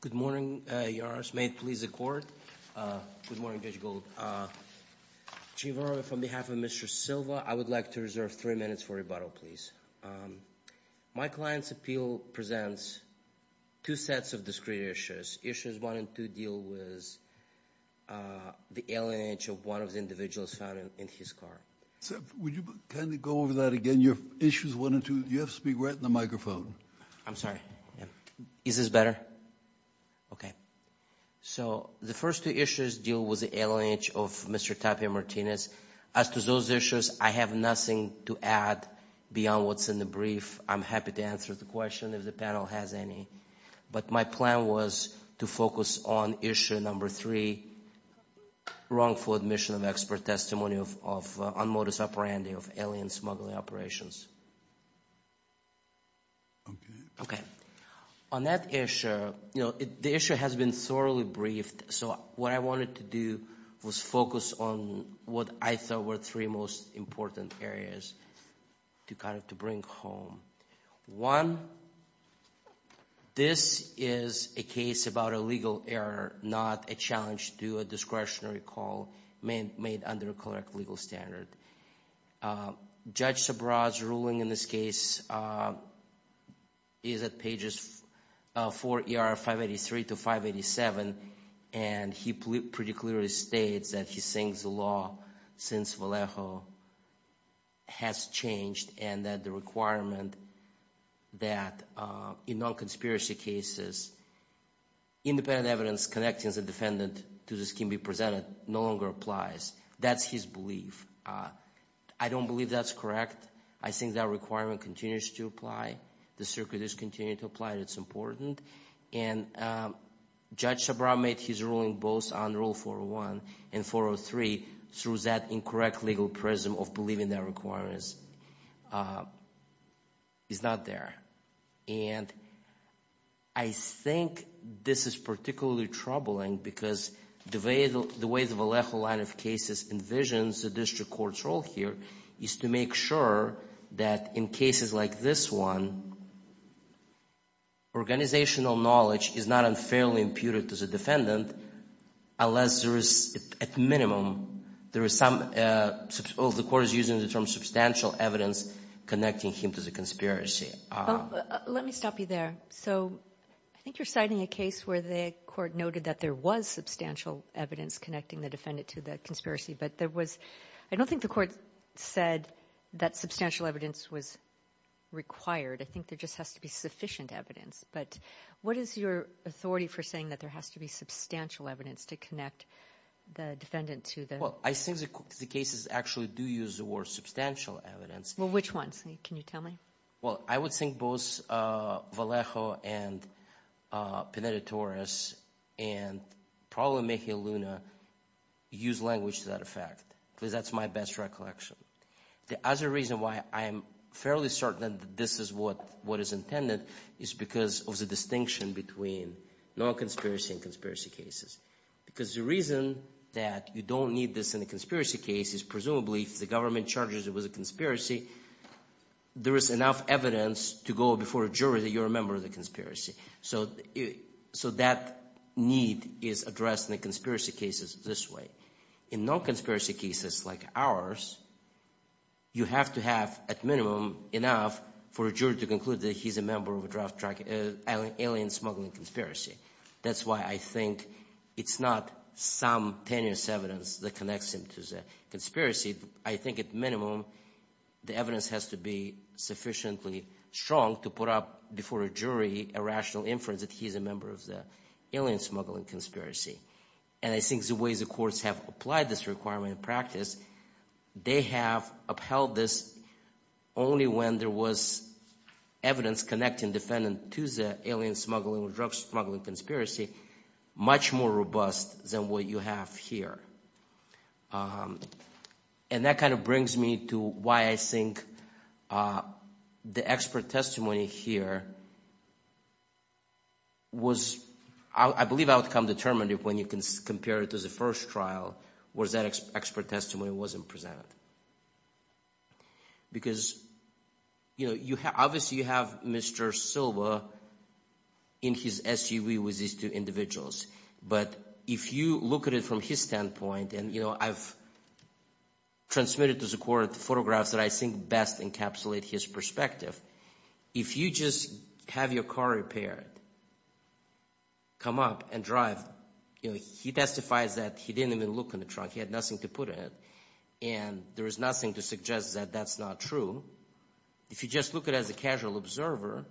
Good morning, your honors. May it please the court. Good morning, Judge Gould. Chief O'Rourke, on behalf of Mr. Silva, I would like to reserve three minutes for rebuttal, please. My client's appeal presents two sets of discrete issues. Issues one and two deal with the alienage of one of the individuals found in his car. Would you kind of go over that again? Your issues one and two, you have to speak right in the microphone. I'm sorry. Is this better? Okay. So the first two issues deal with the alienage of Mr. Tapia Martinez. As to those issues, I have nothing to add beyond what's in the brief. I'm happy to answer the question if the panel has any. But my plan was to focus on issue number three, wrongful admission of expert testimony of unmodus operandi of alien smuggling operations. Okay. On that issue, you know, the issue has been thoroughly briefed. So what I wanted to do was focus on what I thought were three most important areas to kind of to bring home. One, this is a case about a legal error, not a challenge to a discretionary call made under a correct legal standard. Judge Sabra's ruling in this case is at pages 4ER583 to 587, and he pretty clearly states that he sings the law since Vallejo has changed and that the requirement that in non-conspiracy cases independent evidence connected as a defendant to the scheme be presented no longer applies. That's his belief. I don't believe that's correct. I think that requirement continues to apply. The circuit is continuing to apply. It's important. And Judge Sabra made his ruling both on Rule 401 and 403 through that incorrect legal prism of believing that requirements is not there. And I think this is particularly troubling because the way the Vallejo line of cases envisions the district court's role here is to make sure that in cases like this one, organizational knowledge is not unfairly imputed to the defendant, unless there is, at minimum, there is some of the court is using the term substantial evidence connecting him to the conspiracy. Let me stop you there. So I think you're citing a case where the court noted that there was substantial evidence connecting the defendant to the conspiracy, but there was, I don't think the court said that substantial evidence was required. I think there just has to be sufficient evidence. But what is your authority for saying that there has to be substantial evidence to connect the defendant to the... Well, I think the cases actually do use the word substantial evidence. Well, which ones? Can you tell me? Well, I would think both Vallejo and Pineda-Torres and probably Mejia Luna use language to that effect, because that's my best recollection. The other reason why I'm fairly certain that this is what is intended is because of the distinction between non-conspiracy and conspiracy cases. Because the reason that you don't need this in a conspiracy case is, presumably, if the government charges it was a conspiracy, there is enough evidence to go before a jury that you're a member of the conspiracy. So that need is addressed in the conspiracy cases this way. In non-conspiracy cases like ours, you have to have, at minimum, enough for a jury to conclude that he's a member of an alien smuggling conspiracy. That's why I think it's not some tenuous evidence that connects him to the conspiracy. I think, at minimum, the evidence has to be sufficiently strong to put up before a jury a rational inference that he's a member of the alien smuggling conspiracy. And I think the ways the courts have applied this requirement in practice, they have upheld this only when there was evidence connecting defendant to the alien smuggling or drug smuggling conspiracy much more robust than what you have here. And that kind of brings me to why I think the expert testimony here was, I believe, outcome-determinative when you can compare it to the first trial, where that expert testimony wasn't presented. Because, you know, obviously, you have Mr. Silva in his SUV with these two individuals. But if you look at it from his standpoint, and, you know, I've transmitted to the court photographs that I think best encapsulate his perspective. If you just have your car repaired, come up and drive, you know, he testifies that he didn't even look in the trunk. He had nothing to put in it. And there is nothing to suggest that that's not true. If you just look at it as a casual observer,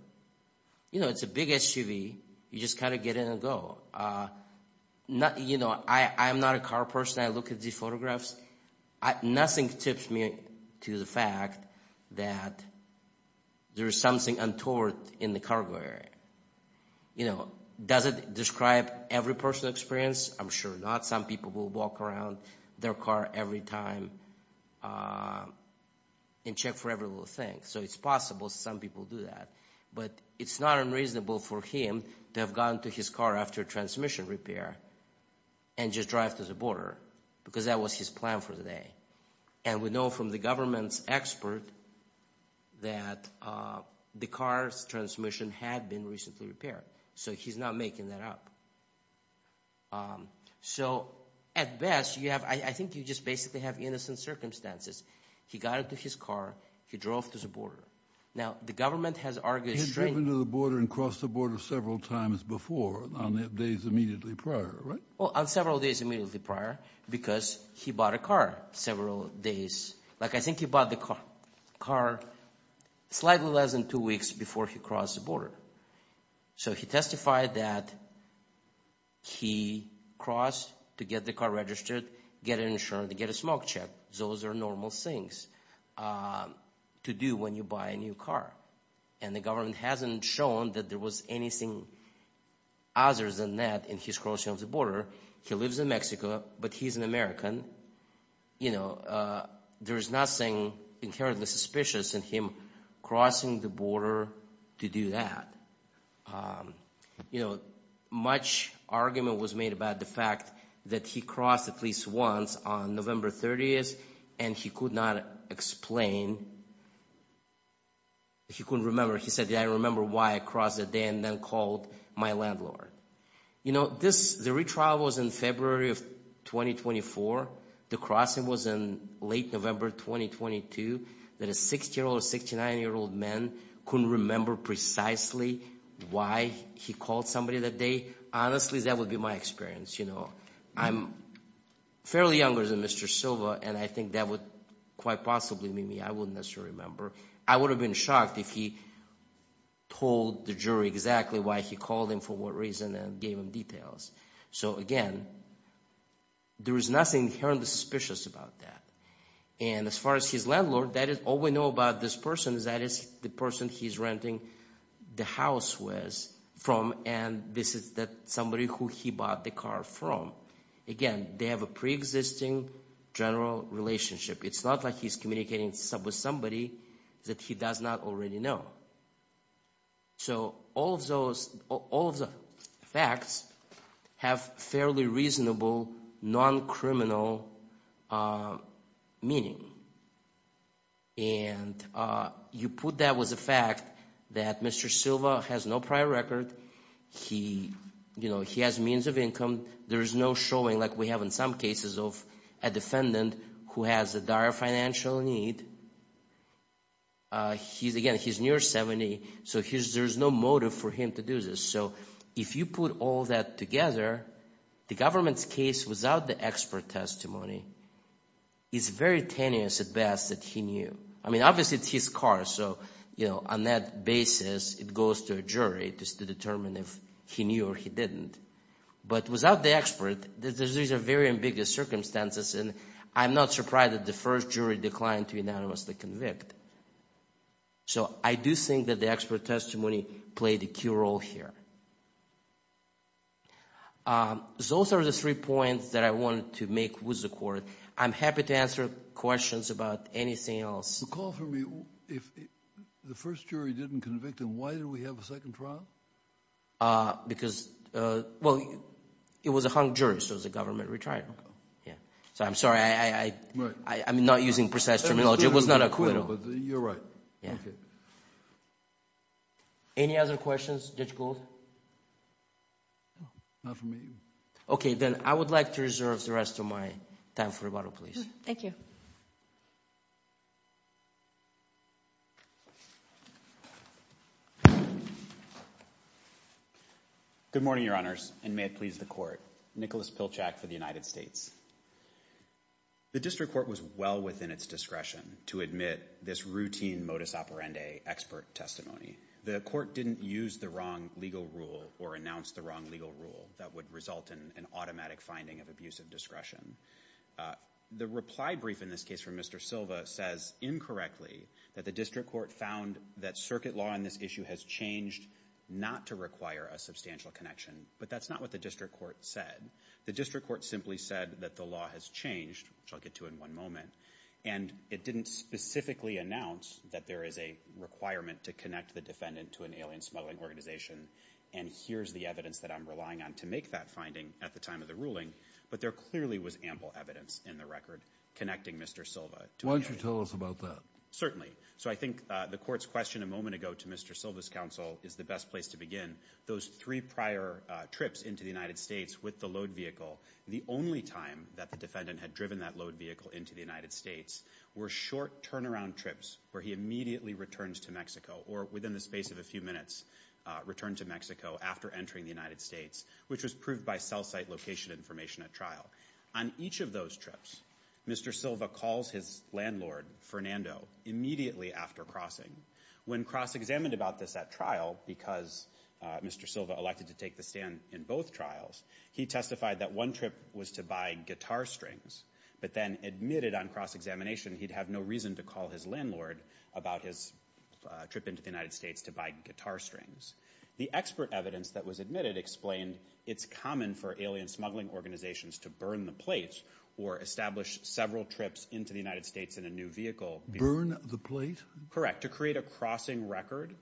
you know, it's a big SUV. You just kind of get in and go. You know, I'm not a car person. I look at these photographs. Nothing tips me to the fact that there's something untoward in the cargo area. You know, does it describe every personal experience? I'm sure not. Some people will walk around their car every time and check for every little thing. So it's possible some people do that. But it's not unreasonable for him to have gone to his car after transmission repair and just drive to the border, because that was his plan for the day. And we know from the government's expert that the car's transmission had been recently repaired. So he's not making that up. So at best, you have, I think you just basically have innocent circumstances. He got into his car. He drove to the border. Now, the government has argued He had driven to the border and crossed the border several times before on the days immediately prior, right? Well, on several days immediately prior, because he bought a car several days. Like, I think he bought the car slightly less than two weeks before he crossed the border. So he testified that he crossed to get the car registered, get insurance, get a smoke check. Those are normal things to do when you buy a new car. And the government hasn't shown that there was anything other than that in his crossing of the border. He lives in Mexico, but he's an American. You know, there is nothing inherently suspicious in him crossing the border to do that. You know, much argument was made about the fact that he crossed at least once on November 30th, and he could not explain. He couldn't remember. He said, I remember why I crossed that day and then called my landlord. You know, this, the retrial was in February of 2024. The crossing was in late November 2022. That a 60-year-old or 69-year-old man couldn't remember precisely why he called somebody that day. Honestly, that would be my experience. You know, I'm fairly younger than Mr. Silva, and I think that quite possibly mean I wouldn't necessarily remember. I would have been shocked if he told the jury exactly why he called him, for what reason, and gave him details. So again, there is nothing inherently suspicious about that. And as far as his landlord, that is all we know about this person is that is the person he's renting the house with from, and this is that somebody who he bought the car from. Again, they have a pre-existing general relationship. It's not like he's communicating with somebody that he does not already know. So all of those, all of the facts have fairly reasonable non-criminal meaning. And you put that was a fact that Mr. Silva has no prior record. He, you know, he has means of income. There is no showing like we have in some cases of a defendant who has a dire financial need. He's, again, he's near 70, so there's no motive for him to do this. So if you put all that together, the government's case without the expert testimony is very tenuous at best that he knew. I mean, obviously it's his car. So, you know, on that basis, it goes to a jury just to determine if he knew or he didn't. But without the expert, these are very ambiguous circumstances, and I'm not surprised that the first jury declined to unanimously convict. So I do think that the expert testimony played a key role here. Those are the three points that I wanted to make with the court. I'm happy to answer questions about anything else. Recall for me, if the first jury didn't convict him, why did we have a second trial? Because, well, it was a hung jury, so it was a government retrial. Yeah. So I'm sorry, I'm not using precise terminology. It was not a acquittal. You're right. Any other questions, Judge Gould? Not for me. Okay, then I would like to reserve the rest of my time for rebuttal, please. Thank you. Good morning, Your Honors, and may it please the court. Nicholas Pilchak for the United States. The district court was well within its discretion to admit this routine modus operandi expert testimony. The court didn't use the wrong legal rule or announce the wrong legal rule that would automatic finding of abusive discretion. The reply brief in this case from Mr. Silva says incorrectly that the district court found that circuit law on this issue has changed not to require a substantial connection, but that's not what the district court said. The district court simply said that the law has changed, which I'll get to in one moment, and it didn't specifically announce that there is a requirement to connect the defendant to an abusive discretion. There clearly was ample evidence in the record connecting Mr. Silva. Why don't you tell us about that? Certainly. So I think the court's question a moment ago to Mr. Silva's counsel is the best place to begin. Those three prior trips into the United States with the load vehicle, the only time that the defendant had driven that load vehicle into the United States were short turnaround trips where he immediately returned to Mexico or within the space of a few minutes returned to Mexico after entering the United States, which was proved by cell site location information at trial. On each of those trips, Mr. Silva calls his landlord, Fernando, immediately after crossing. When cross-examined about this at trial, because Mr. Silva elected to take the stand in both trials, he testified that one trip was to buy guitar strings, but then admitted on cross-examination he'd have no reason to call his landlord about his trip into the United States to buy guitar strings. The expert evidence that was admitted explained it's common for alien smuggling organizations to burn the plates or establish several trips into the United States in a new vehicle. Burn the plate? Correct. To create a crossing record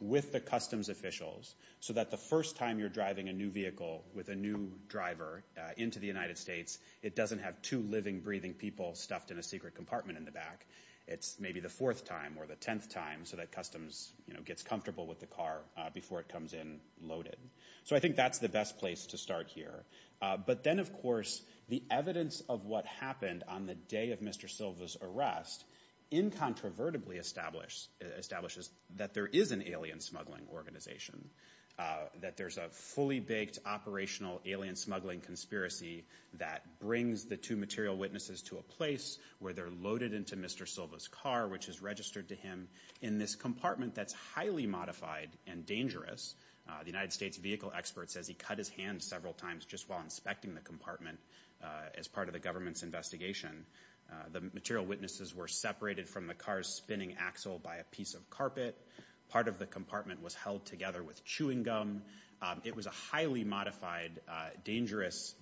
with the customs officials so that the first time you're driving a new vehicle with a new driver into the United States, it doesn't have two living, breathing people stuffed in a secret compartment in the back. It's maybe the fourth time or the tenth time so that customs gets comfortable with the car before it comes in loaded. So I think that's the best place to start here. But then, of course, the evidence of what happened on the day of Mr. Silva's arrest incontrovertibly establishes that there is an alien smuggling organization, that there's a fully-baked operational alien smuggling conspiracy that brings the two material witnesses to a place where they're loaded into Mr. Silva's car, which is registered to him in this compartment that's highly modified and dangerous. The United States vehicle expert says he cut his hand several times just while inspecting the compartment as part of the government's investigation. The material witnesses were separated from the car's spinning axle by a piece of carpet. Part of the compartment was held together with chewing gum. It was a highly modified, dangerous,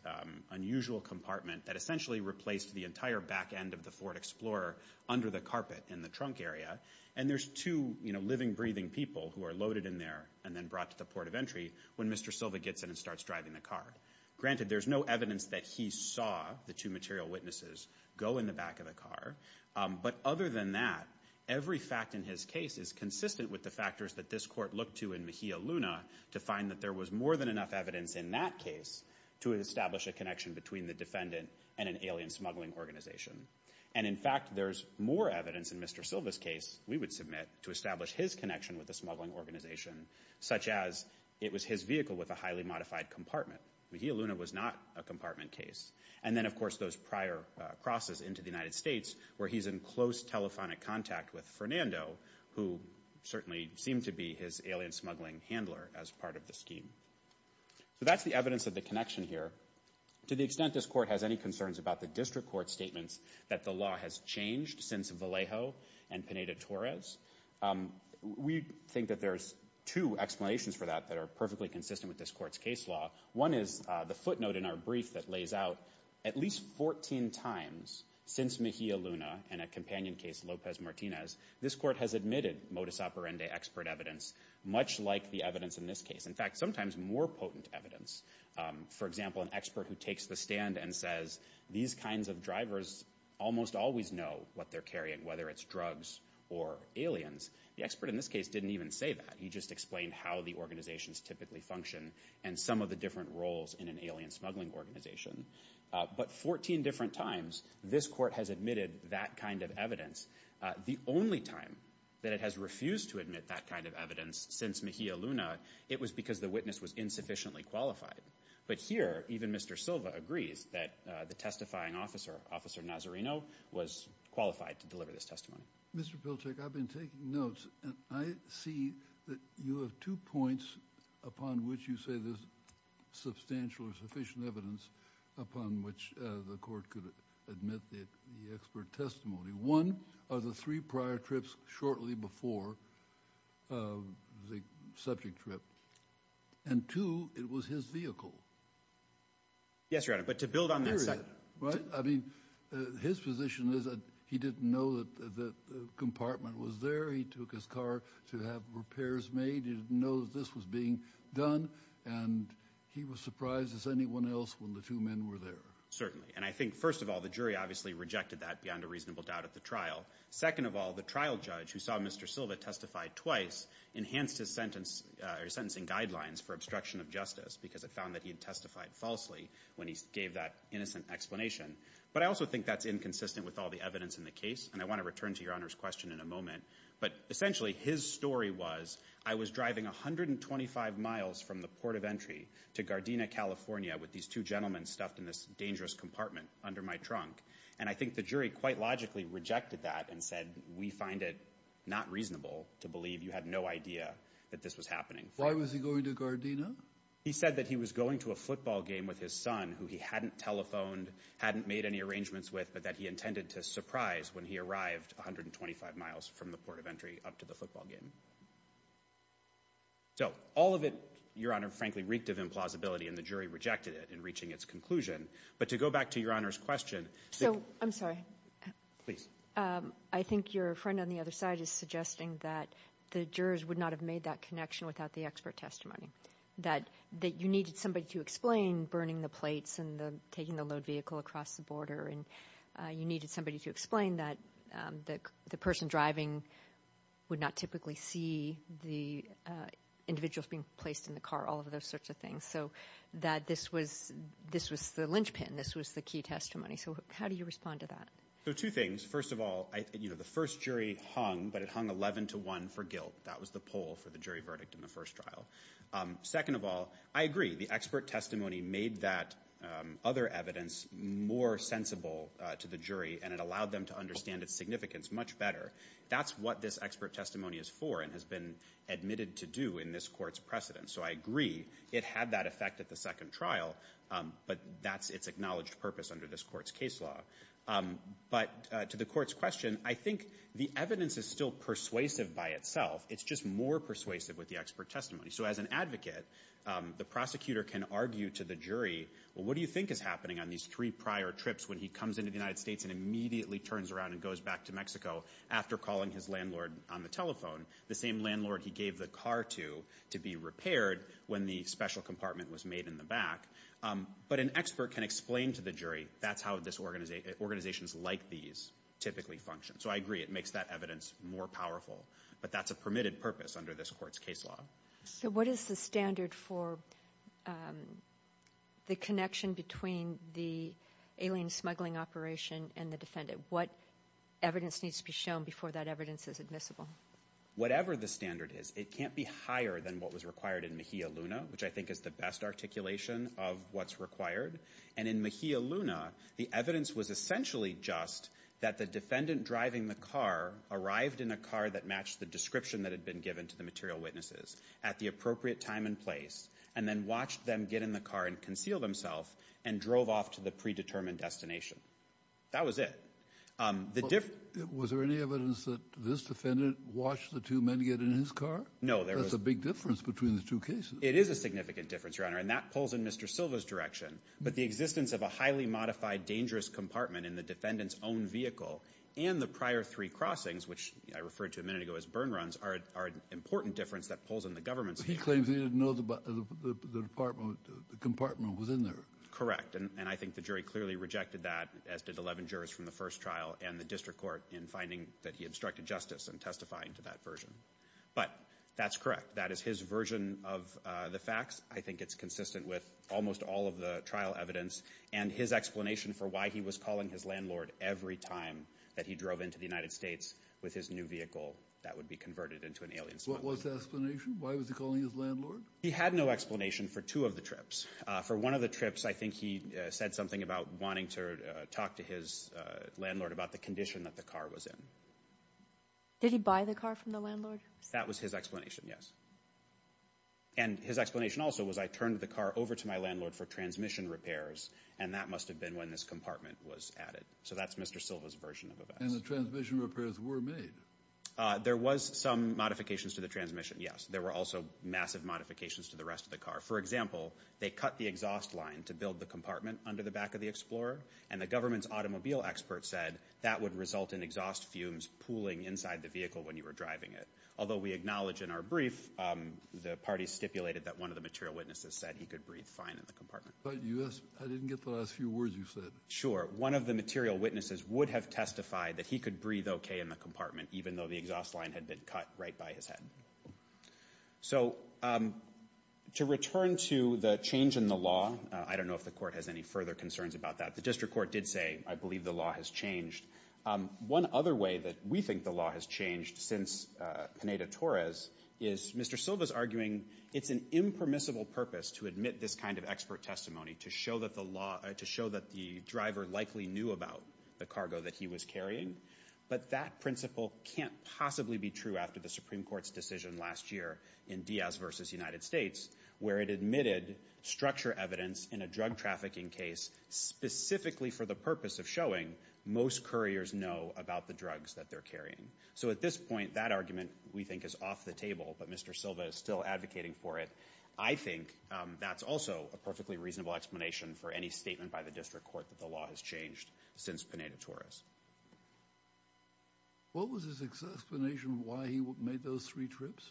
unusual compartment that essentially replaced the entire back end of the Ford Explorer under the carpet in the trunk area. And there's two living, breathing people who are loaded in there and then brought to the port of entry when Mr. Silva gets in and starts driving the car. Granted, there's no evidence that he saw the two material witnesses go in the back of the car. But other than that, every fact in his case is consistent with the factors that this court looked to in Mejia Luna to find that there was more than enough evidence in that case to establish a connection between the defendant and an alien smuggling organization. And in fact, there's more evidence in Mr. Silva's case, we would submit, to establish his connection with the smuggling organization, such as it was his vehicle with a highly modified compartment. Mejia Luna was not a compartment case. And then, of course, those prior crosses into the United States where he's in close telephonic contact with Fernando, who certainly seemed to be his smuggling handler as part of the scheme. So that's the evidence of the connection here. To the extent this court has any concerns about the district court statements that the law has changed since Vallejo and Pineda-Torres, we think that there's two explanations for that that are perfectly consistent with this court's case law. One is the footnote in our brief that lays out at least 14 times since Mejia Luna and a companion case, Lopez Martinez, this court has admitted modus operandi expert evidence, much like the evidence in this case. In fact, sometimes more potent evidence. For example, an expert who takes the stand and says, these kinds of drivers almost always know what they're carrying, whether it's drugs or aliens. The expert in this case didn't even say that. He just explained how the organizations typically function and some of the different roles in an alien smuggling organization. But 14 different times, this court has admitted that kind of evidence. The only time that it has refused to admit that kind of evidence since Mejia Luna, it was because the witness was insufficiently qualified. But here, even Mr. Silva agrees that the testifying officer, Officer Nazarino, was qualified to deliver this testimony. Mr. Pilchik, I've been taking notes and I see that you have two points upon which you say there's substantial or sufficient evidence upon which the court could admit the expert testimony. One, are the three prior trips shortly before the subject trip. And two, it was his vehicle. Yes, Your Honor, but to build on that... I mean, his position is that he didn't know that the compartment was there. He took his car to have repairs made. He didn't know that this was being done. And he was surprised as anyone else when the two men were there. Certainly. And I think, first of all, the jury obviously rejected that beyond a reasonable doubt at the trial. Second of all, the trial judge who saw Mr. Silva testify twice enhanced his sentencing guidelines for obstruction of justice because it found that he had testified falsely when he gave that innocent explanation. But I also think that's inconsistent with all the evidence in the case. And I want to return to Your Honor's question in a moment. But essentially, his story was, I was driving 125 miles from the port of entry to Gardena, California, with these two gentlemen stuffed in this dangerous compartment under my trunk. And I think the jury quite logically rejected that and said, we find it not reasonable to believe you had no idea that this was happening. Why was he going to Gardena? He said that he was going to a football game with his son who he hadn't telephoned, hadn't made any arrangements with, but that he intended to surprise when he arrived 125 miles from the port of entry up to the football game. So all of it, Your Honor, frankly, reeked of implausibility and the jury rejected it in reaching its conclusion. But to go back to Your Honor's question. So, I'm sorry. Please. I think your friend on the other side is suggesting that the jurors would not have made that connection without the expert testimony. That you needed somebody to explain burning the plates and taking the load vehicle across the border. And you needed somebody to explain that the person driving would not typically see the individuals being placed in the car, all of those sorts of things. So that this was the linchpin. This was the key testimony. So how do you respond to that? So two things. First of all, the first jury hung, but it hung 11 to one for guilt. That was the poll for the jury verdict in the first trial. Second of all, I agree. The expert testimony made that other evidence more sensible to the jury and it allowed them to understand its significance much better. That's what this expert testimony is for and has been admitted to do in this court's precedent. So I agree it had that effect at the second trial, but that's its acknowledged purpose under this court's case law. But to the court's question, I think the evidence is still persuasive by itself. It's just more persuasive with the jury. Well, what do you think is happening on these three prior trips when he comes into the United States and immediately turns around and goes back to Mexico after calling his landlord on the telephone, the same landlord he gave the car to, to be repaired when the special compartment was made in the back. But an expert can explain to the jury, that's how this organization, organizations like these typically function. So I agree it makes that evidence more powerful, but that's a permitted purpose under this court's case law. So what is the standard for the connection between the alien smuggling operation and the defendant? What evidence needs to be shown before that evidence is admissible? Whatever the standard is, it can't be higher than what was required in Mejia Luna, which I think is the best articulation of what's required. And in Mejia Luna, the evidence was essentially just that the defendant driving the car arrived in a car that matched the description that had been at the appropriate time and place, and then watched them get in the car and conceal themselves and drove off to the predetermined destination. That was it. Was there any evidence that this defendant watched the two men get in his car? No. There's a big difference between the two cases. It is a significant difference, Your Honor, and that pulls in Mr. Silva's direction. But the existence of a highly modified dangerous compartment in the defendant's own vehicle and the prior three crossings, which I referred to a minute ago as burn runs, are an important difference that pulls in the government's— He claims he didn't know the compartment was in there. Correct. And I think the jury clearly rejected that, as did 11 jurors from the first trial and the district court, in finding that he obstructed justice and testifying to that version. But that's correct. That is his version of the facts. I think it's consistent with almost all of the trial evidence and his explanation for why he was calling his every time that he drove into the United States with his new vehicle that would be converted into an alien. What was the explanation? Why was he calling his landlord? He had no explanation for two of the trips. For one of the trips, I think he said something about wanting to talk to his landlord about the condition that the car was in. Did he buy the car from the landlord? That was his explanation, yes. And his explanation also was, I turned the car over to my landlord for transmission repairs, and that must have been when this compartment was added. So that's Mr. Silva's version of the facts. And the transmission repairs were made? There was some modifications to the transmission, yes. There were also massive modifications to the rest of the car. For example, they cut the exhaust line to build the compartment under the back of the Explorer, and the government's automobile expert said that would result in exhaust fumes pooling inside the vehicle when you were driving it. Although we acknowledge in our brief the parties stipulated that one of the material witnesses said he could breathe fine in the compartment. I didn't get the last few words you said. Sure. One of the material witnesses would have testified that he could breathe okay in the compartment even though the exhaust line had been cut right by his head. So to return to the change in the law, I don't know if the court has any further concerns about that. The district court did say, I believe the law has changed. One other way that we think the law has changed since Pineda-Torres is Mr. Silva's arguing it's an impermissible purpose to admit this kind of expert testimony to show that the driver likely knew about the cargo that he was carrying. But that principle can't possibly be true after the Supreme Court's decision last year in Diaz versus United States, where it admitted structure evidence in a drug trafficking case specifically for the purpose of showing most couriers know about the drugs that they're carrying. So at this point, that argument we think is off the table, but Mr. Silva is still advocating for it. I think that's also a perfectly reasonable explanation for any statement by the district court that the law has changed since Pineda-Torres. What was his explanation why he made those three trips?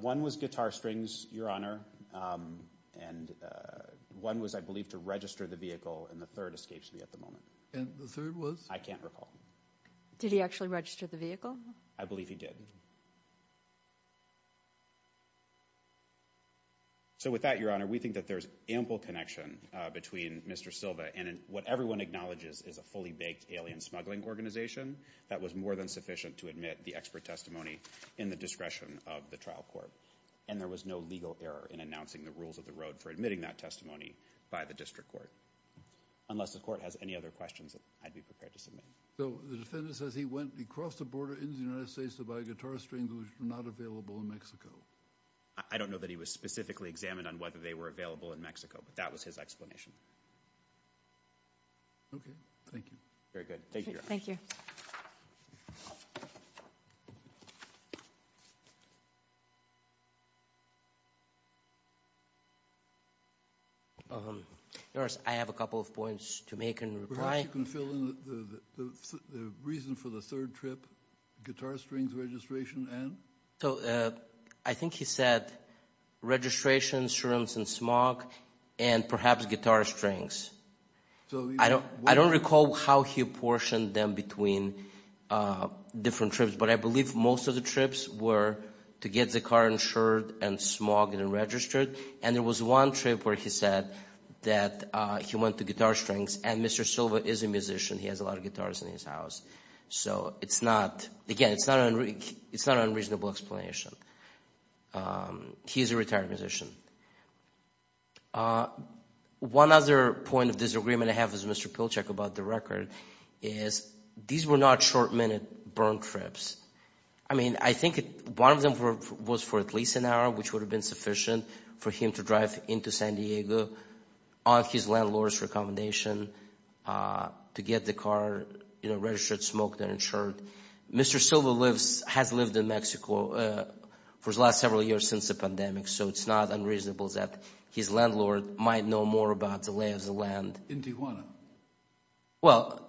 One was guitar strings, your honor, and one was I believe to register the vehicle and the third escapes me at the moment. And the third was? I can't recall. Did he actually register the vehicle? I believe he did. So with that, your honor, we think that there's ample connection between Mr. Silva and what everyone acknowledges is a fully baked alien smuggling organization that was more than sufficient to admit the expert testimony in the discretion of the trial court. And there was no legal error in announcing the rules of the road for admitting that testimony by the district court. Unless the court has any other questions, I'd be prepared to submit. So the defendant says he went across the border in the United States to buy guitar strings which were not available in Mexico. I don't know that he was specifically examined on whether they were available in Mexico, but that was his explanation. Okay, thank you. Very good. Thank you, your honor. Thank you. Your honor, I have a couple of points to make and reply. Perhaps you can fill in the reason for the third trip, guitar strings registration and? So I think he said registration, serums and smog, and perhaps guitar strings. I don't recall how he apportioned them between different trips, but I believe most of the trips were to get the car insured and smuggled and registered. And there was one trip where he said that he went to guitar strings. And Mr. Silva is a musician. He has a lot of guitars in his house. So it's not, again, it's not an unreasonable explanation. He's a retired musician. One other point of disagreement I have with Mr. Pilchuck about the record is these were not short minute burn trips. I mean, I think one of them was for at least an hour, which would have been sufficient for him to drive into San Diego on his landlord's recommendation to get the car registered, smoked and insured. Mr. Silva has lived in Mexico for the last several years since the pandemic. So it's not unreasonable that his landlord might know more about the lay of the land. Well,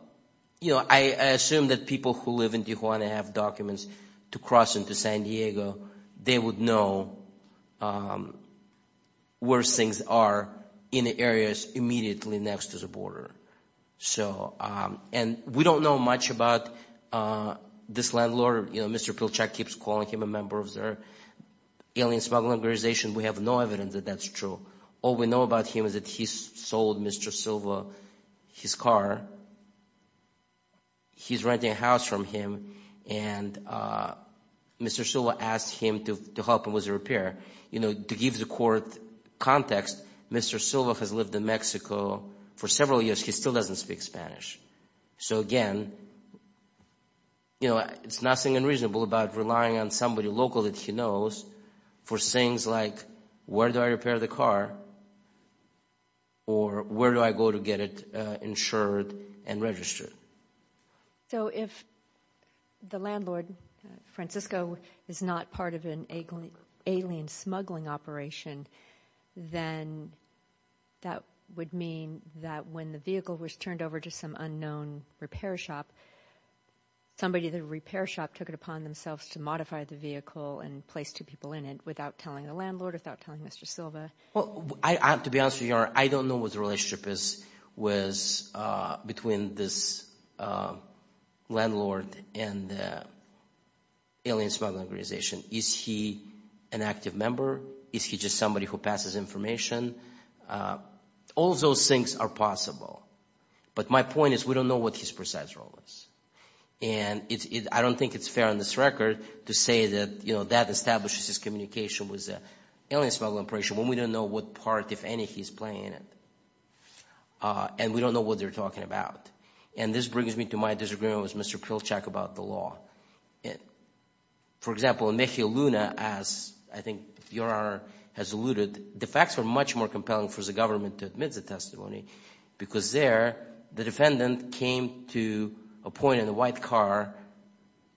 you know, I assume that people who live in Tijuana have documents to cross into San Diego. They would know where things are in the areas immediately next to the border. And we don't know much about this landlord. Mr. Pilchuck keeps calling him a member of their alien smuggling organization. We have no evidence that that's true. All we know about him is that he sold Mr. Silva his car. He's renting a house from him. And Mr. Silva asked him to help him with the repair. You know, to give the court context, Mr. Silva has lived in Mexico for several years. He still doesn't speak Spanish. So again, you know, it's nothing unreasonable about relying on somebody local that he knows for things like, where do I repair the car or where do I go to get it insured and registered? So if the landlord, Francisco, is not part of an alien smuggling operation, then that would mean that when the vehicle was turned over to some unknown repair shop, somebody at the repair shop took it upon themselves to modify the vehicle and place two people in it without telling the landlord, without telling Mr. Silva? Well, to be honest with you, I don't know what the relationship was between this landlord and the alien smuggling organization. Is he an active member? Is he just somebody who passes information? All those things are possible. But my point is we don't know what his precise role is. And I don't think it's fair on this record to say that, you know, that establishes communication with the alien smuggling operation when we don't know what part, if any, he's playing in it. And we don't know what they're talking about. And this brings me to my disagreement with Mr. Pilchuck about the law. For example, in Mejia Luna, as I think your honor has alluded, the facts are much more compelling for the government to admit the testimony because there the defendant came to a point in a white car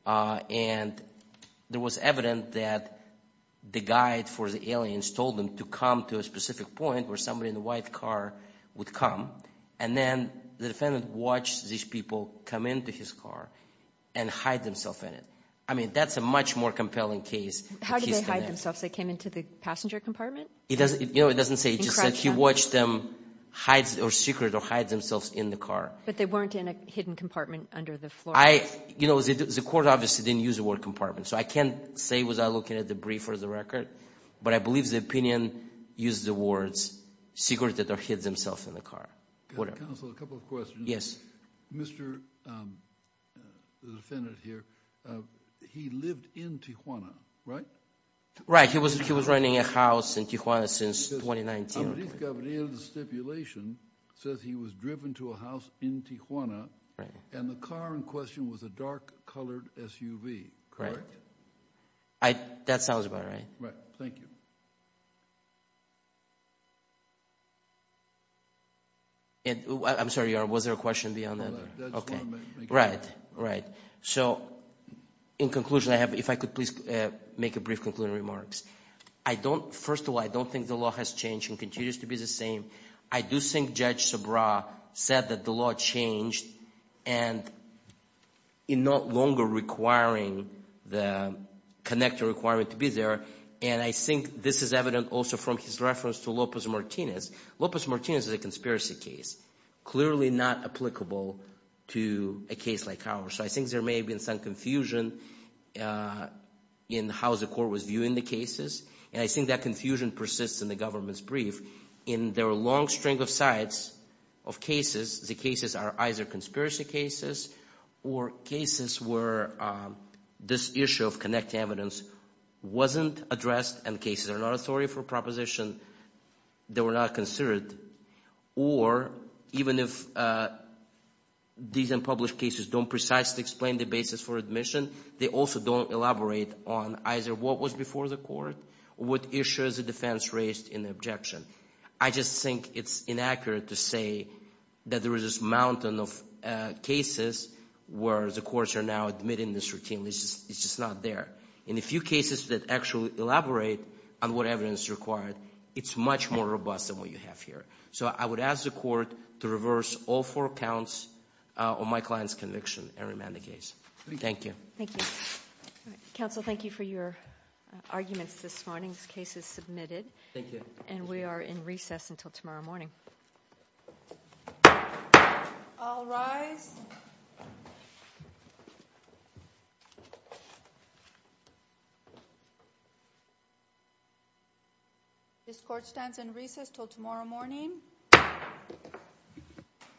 and it was evident that the guide for the aliens told them to come to a specific point where somebody in the white car would come. And then the defendant watched these people come into his car and hide themselves in it. I mean, that's a much more compelling case. How did they hide themselves? They came into the passenger compartment? He doesn't, you know, he doesn't say he just said he watched them hide or secret or hide themselves in the car. But they weren't in a hidden compartment under the floor? I, you know, the court obviously didn't use the word compartment. So I can't say without looking at the brief or the record, but I believe the opinion used the words secreted or hid themselves in the car. Counsel, a couple of questions. Yes. Mr., the defendant here, he lived in Tijuana, right? Right. He was, he was renting a house in Tijuana since 2019. The stipulation says he was driven to a house in Tijuana and the car in question was a dark colored SUV, correct? I, that sounds about right. Right. Thank you. And I'm sorry, was there a question beyond that? Okay. Right. Right. So in conclusion, if I could please make a brief concluding remarks. I don't, first of all, I don't think the law has changed and continues to be the same. I do think Judge Subra said that the law changed and in no longer requiring the connector requirement to be there. And I think this is evident also from his reference to Lopez Martinez. Lopez Martinez is a conspiracy case, clearly not applicable to a case like ours. So I think there may have been some confusion in how the court was viewing the cases. And I think that confusion persists in the government's brief. In their long string of sites of cases, the cases are either conspiracy cases or cases where this issue of connecting evidence wasn't addressed and cases are not authority for proposition that were not considered. Or even if these unpublished cases don't precisely explain the basis for admission, they also don't elaborate on either what was before the court, what issues the defense raised in the objection. I just think it's inaccurate to say that there is this mountain of cases where the courts are now admitting this routinely. It's just not there. In a few cases that actually elaborate on what evidence is required, it's much more robust than what you have here. So I would ask the court to reverse all four counts on my client's conviction and remand the case. Thank you. Thank you. Counsel, thank you for your arguments this morning. This case is submitted. Thank you. And we are in recess until tomorrow morning. I'll rise. This court stands in recess till tomorrow morning.